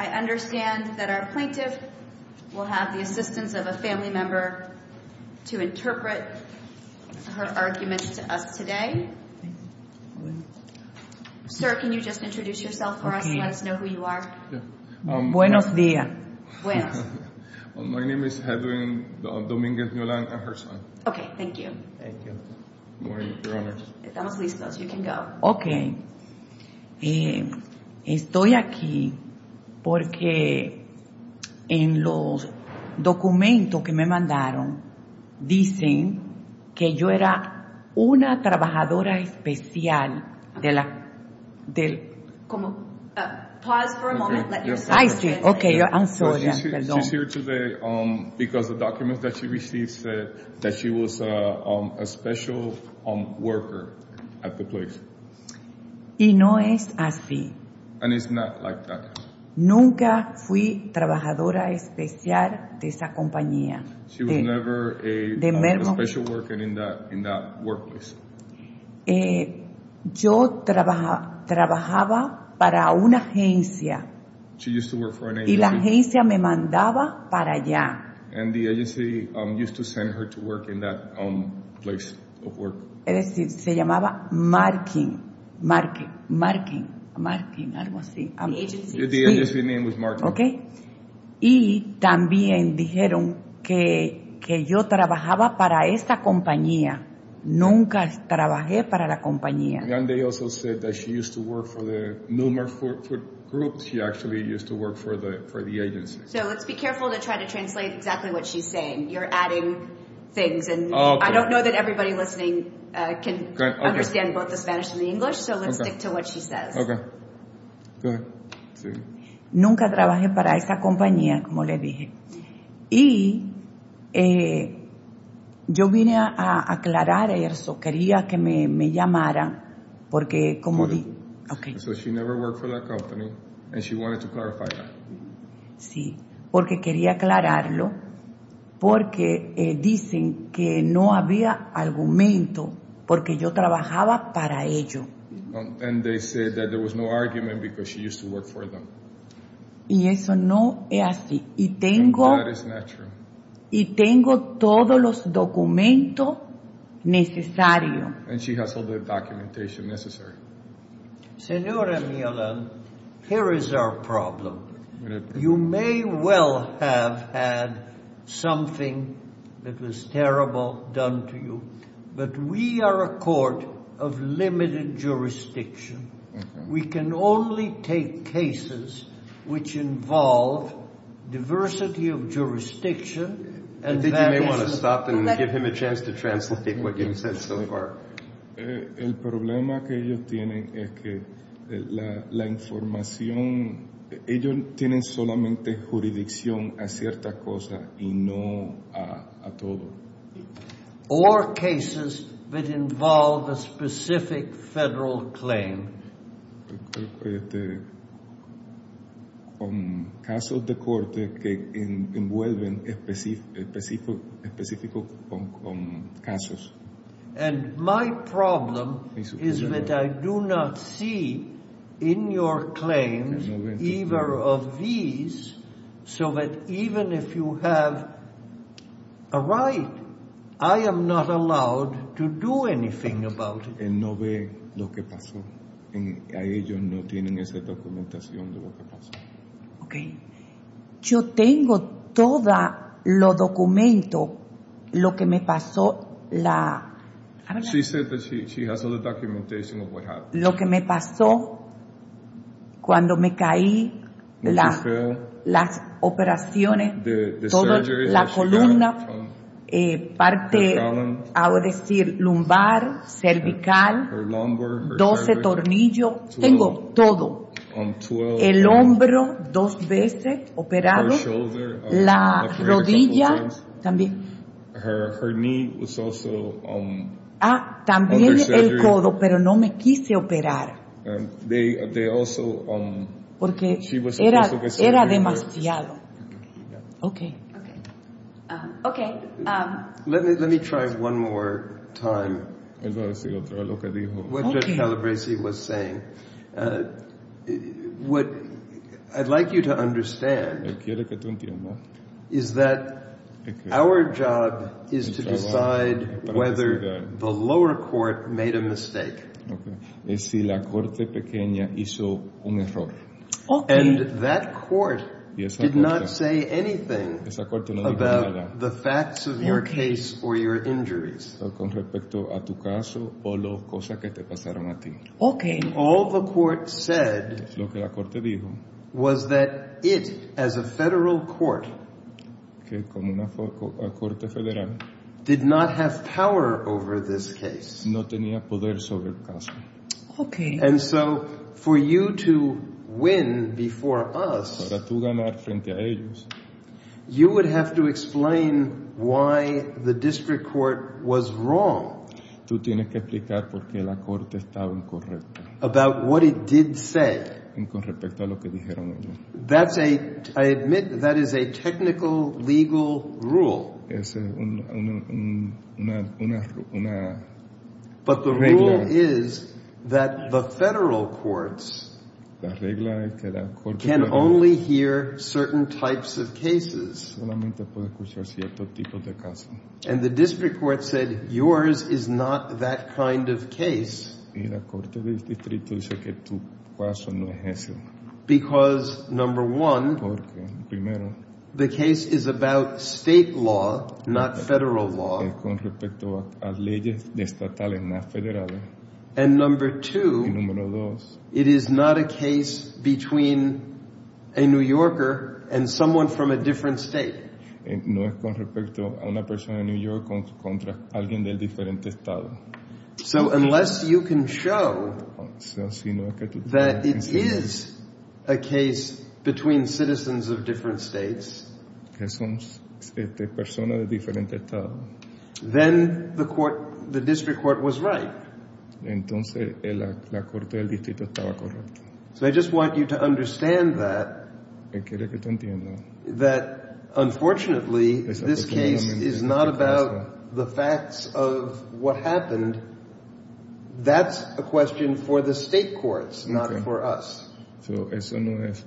I understand that our plaintiff will have the assistance of a family member to interpret her argument to us today. Sir, can you just introduce yourself for us, let us know who you are. Buenos dias. When? My name is Edwin Dominguez Miolan and her son. Okay, thank you. Thank you. My name is Edwin Dominguez Miolan and her son. Okay, thank you. My name is Edwin Dominguez Miolan and her son. Ma'am, can I ask you what you told Pamela Sanchez on the agency. And the agency used to send her to work in that place of work. The agency name was Marking. And they also said that she used to work for the NumerFoot group. So let's be careful to try to translate exactly what she's saying. You're adding things. And I don't know that everybody listening can understand both the Spanish and the English. So let's stick to what she says. Nunca trabajé para esa compañía, como le dije. Y yo vine a aclarar eso. Quería que me llamaran porque, como le dije. Okay. So she never worked for that company and she wanted to clarify that. Sí, porque quería aclararlo porque dicen que no había argumento porque yo trabajaba para ello. And they said that there was no argument because she used to work for them. Y eso no es así. Y tengo todos los documentos necesarios. And she has all the documentation necessary. Senor Emiliano, here is our problem. You may well have had something that was terrible done to you. But we are a court of limited jurisdiction. We can only take cases which involve diversity of jurisdiction and that is... El problema que ellos tienen es que la información... Ellos tienen solamente jurisdicción a cierta cosa y no a todo. Or cases that involve a specific federal claim. Con casos de corte que envuelven específicos casos. And my problem is that I do not see in your claims either of these so that even if you have a right, I am not allowed to do anything about it. Ellos no tienen esa documentación de lo que pasó. Okay. Yo tengo todos los documentos de lo que me pasó, lo que me pasó cuando me caí, las operaciones, toda la columna, parte, ahora decir, lumbar, cervical, 12 tornillos, 12 el hombro dos veces operado, la rodilla, también el codo, pero no me quise operar porque era demasiado. Okay. Okay. Let me try one more time what Judge Calabresi was saying. What I'd like you to understand is that our job is to decide whether the lower court made a mistake. Okay. And that court did not say anything about the facts of your case or your injuries. Okay. And all the court said was that it as a federal court did not have power over this case. Okay. And so for you to win before us, you would have to explain why the district court was about what it did say. That's a, I admit that is a technical legal rule. Okay. But the rule is that the federal courts can only hear certain types of cases. And the district court said, yours is not that kind of case. Because number one, the case is about state law, not federal law. And number two, it is not a case between a New Yorker and someone from a different state. So unless you can show that it is a case between citizens of different states, then the court, the district court was right. So I just want you to understand that, that unfortunately this case is not about the facts of what happened. That's a question for the state courts, not for us. Okay. She answered.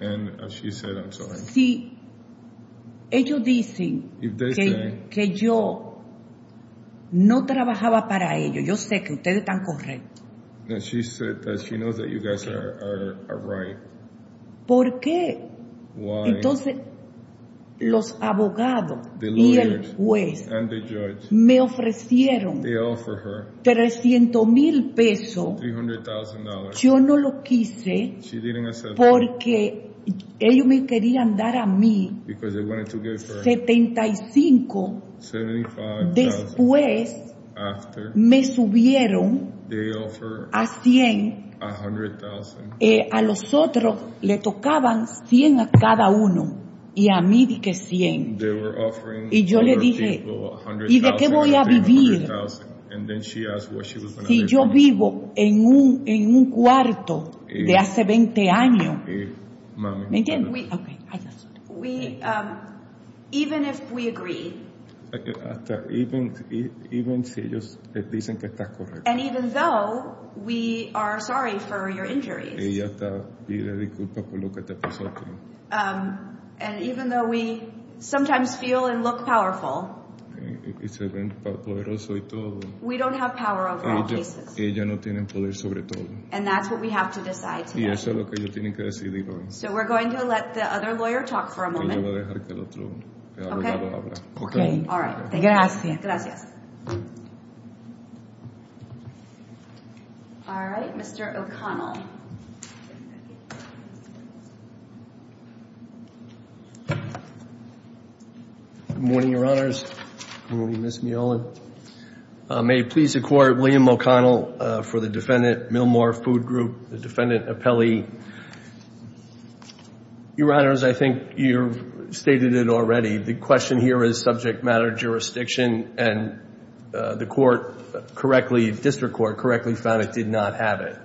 And she said, I'm sorry. If they say that she said that she knows that you guys are right. Why? The lawyers and the judge, they offer her $300,000. She didn't accept it. Because they wanted to give her $75,000. After, they offer $100,000. They were offering to her people $100,000. And then she asked what she was going to live on in school. Even if we agree. And even though we are sorry for your injuries. And even though we sometimes feel and look powerful. We don't have power over our cases. And that's what we have to decide today. So we're going to let the other lawyer talk for a moment. All right, Mr. O'Connell. Good morning, Your Honors. May it please the Court, William O'Connell for the defendant, Millmore Food Group, the defendant, Apelli. Your Honors, I think you've stated it already. The question here is subject matter jurisdiction. And the district court correctly found it did not have it.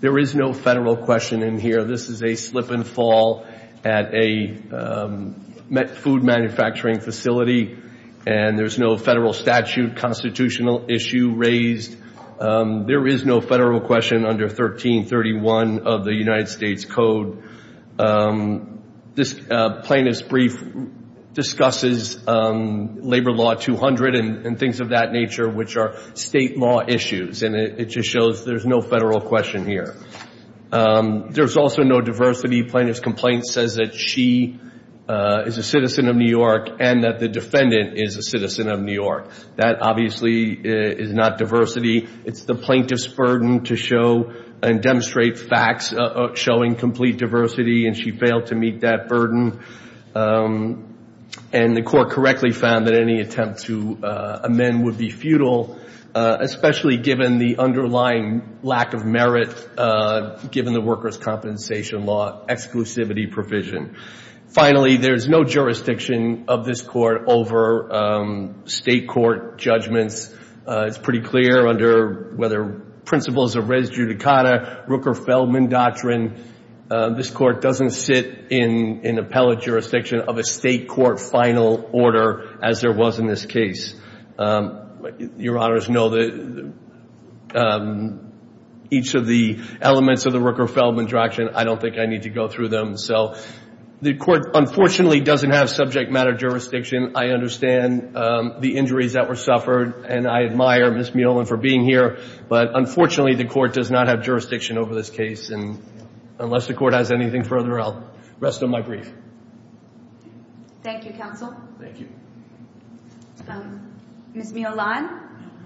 There is no federal question in here. This is a slip and fall at a food manufacturing facility. And there's no federal statute constitutional issue raised. There is no federal question under 1331 of the United States Code. This plaintiff's brief discusses Labor Law 200 and things of that nature, which are state law issues, and it just shows there's no federal question here. There's also no diversity. Plaintiff's complaint says that she is a citizen of New York and that the defendant is a citizen of New York. That obviously is not diversity. It's the plaintiff's burden to show and demonstrate facts showing complete diversity, and she failed to meet that burden. And the court correctly found that any attempt to amend would be futile, especially given the underlying lack of merit given the workers' compensation law exclusivity provision. Finally, there is no jurisdiction of this court over state court judgments. It's pretty clear under whether principles of res judicata, Rooker-Feldman doctrine, this court doesn't sit in appellate jurisdiction of a state court final order as there was in this case. Your Honors, no, each of the elements of the Rooker-Feldman doctrine, I don't think I need to go through them. So the court unfortunately doesn't have subject matter jurisdiction. I understand the injuries that were suffered, and I admire Ms. Muellen for being here. But unfortunately, the court does not have jurisdiction over this case. And unless the court has anything further, I'll rest on my brief. Thank you, Counsel. Ms. Muellen,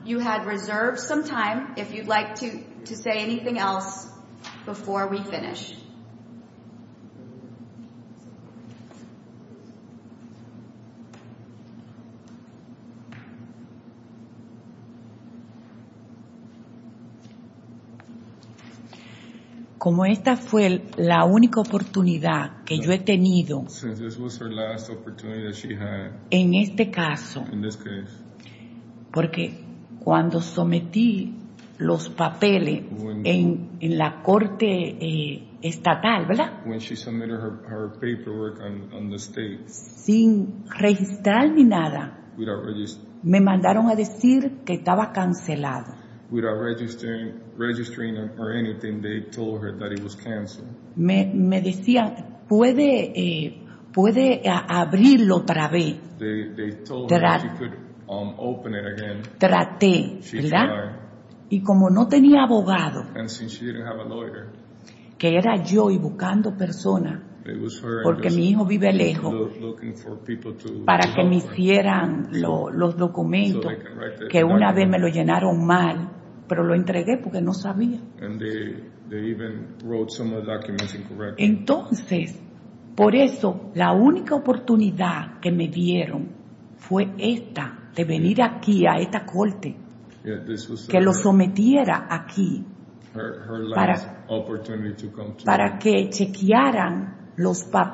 you had reserved some time if you'd like to say anything else before we finish. Since this was her last opportunity that she had in this case, when she submitted her paperwork on the state, without registering or anything, they told her that it was canceled. They told her she could open it again. She tried. And since she didn't have a lawyer, it was her and her son looking for people to help her, so they can write the document. And they even wrote some of the documents incorrectly. So that's why the only opportunity they gave me was to come here to this court, to submit it here, so they can check the documents. That's all. May God bless you all.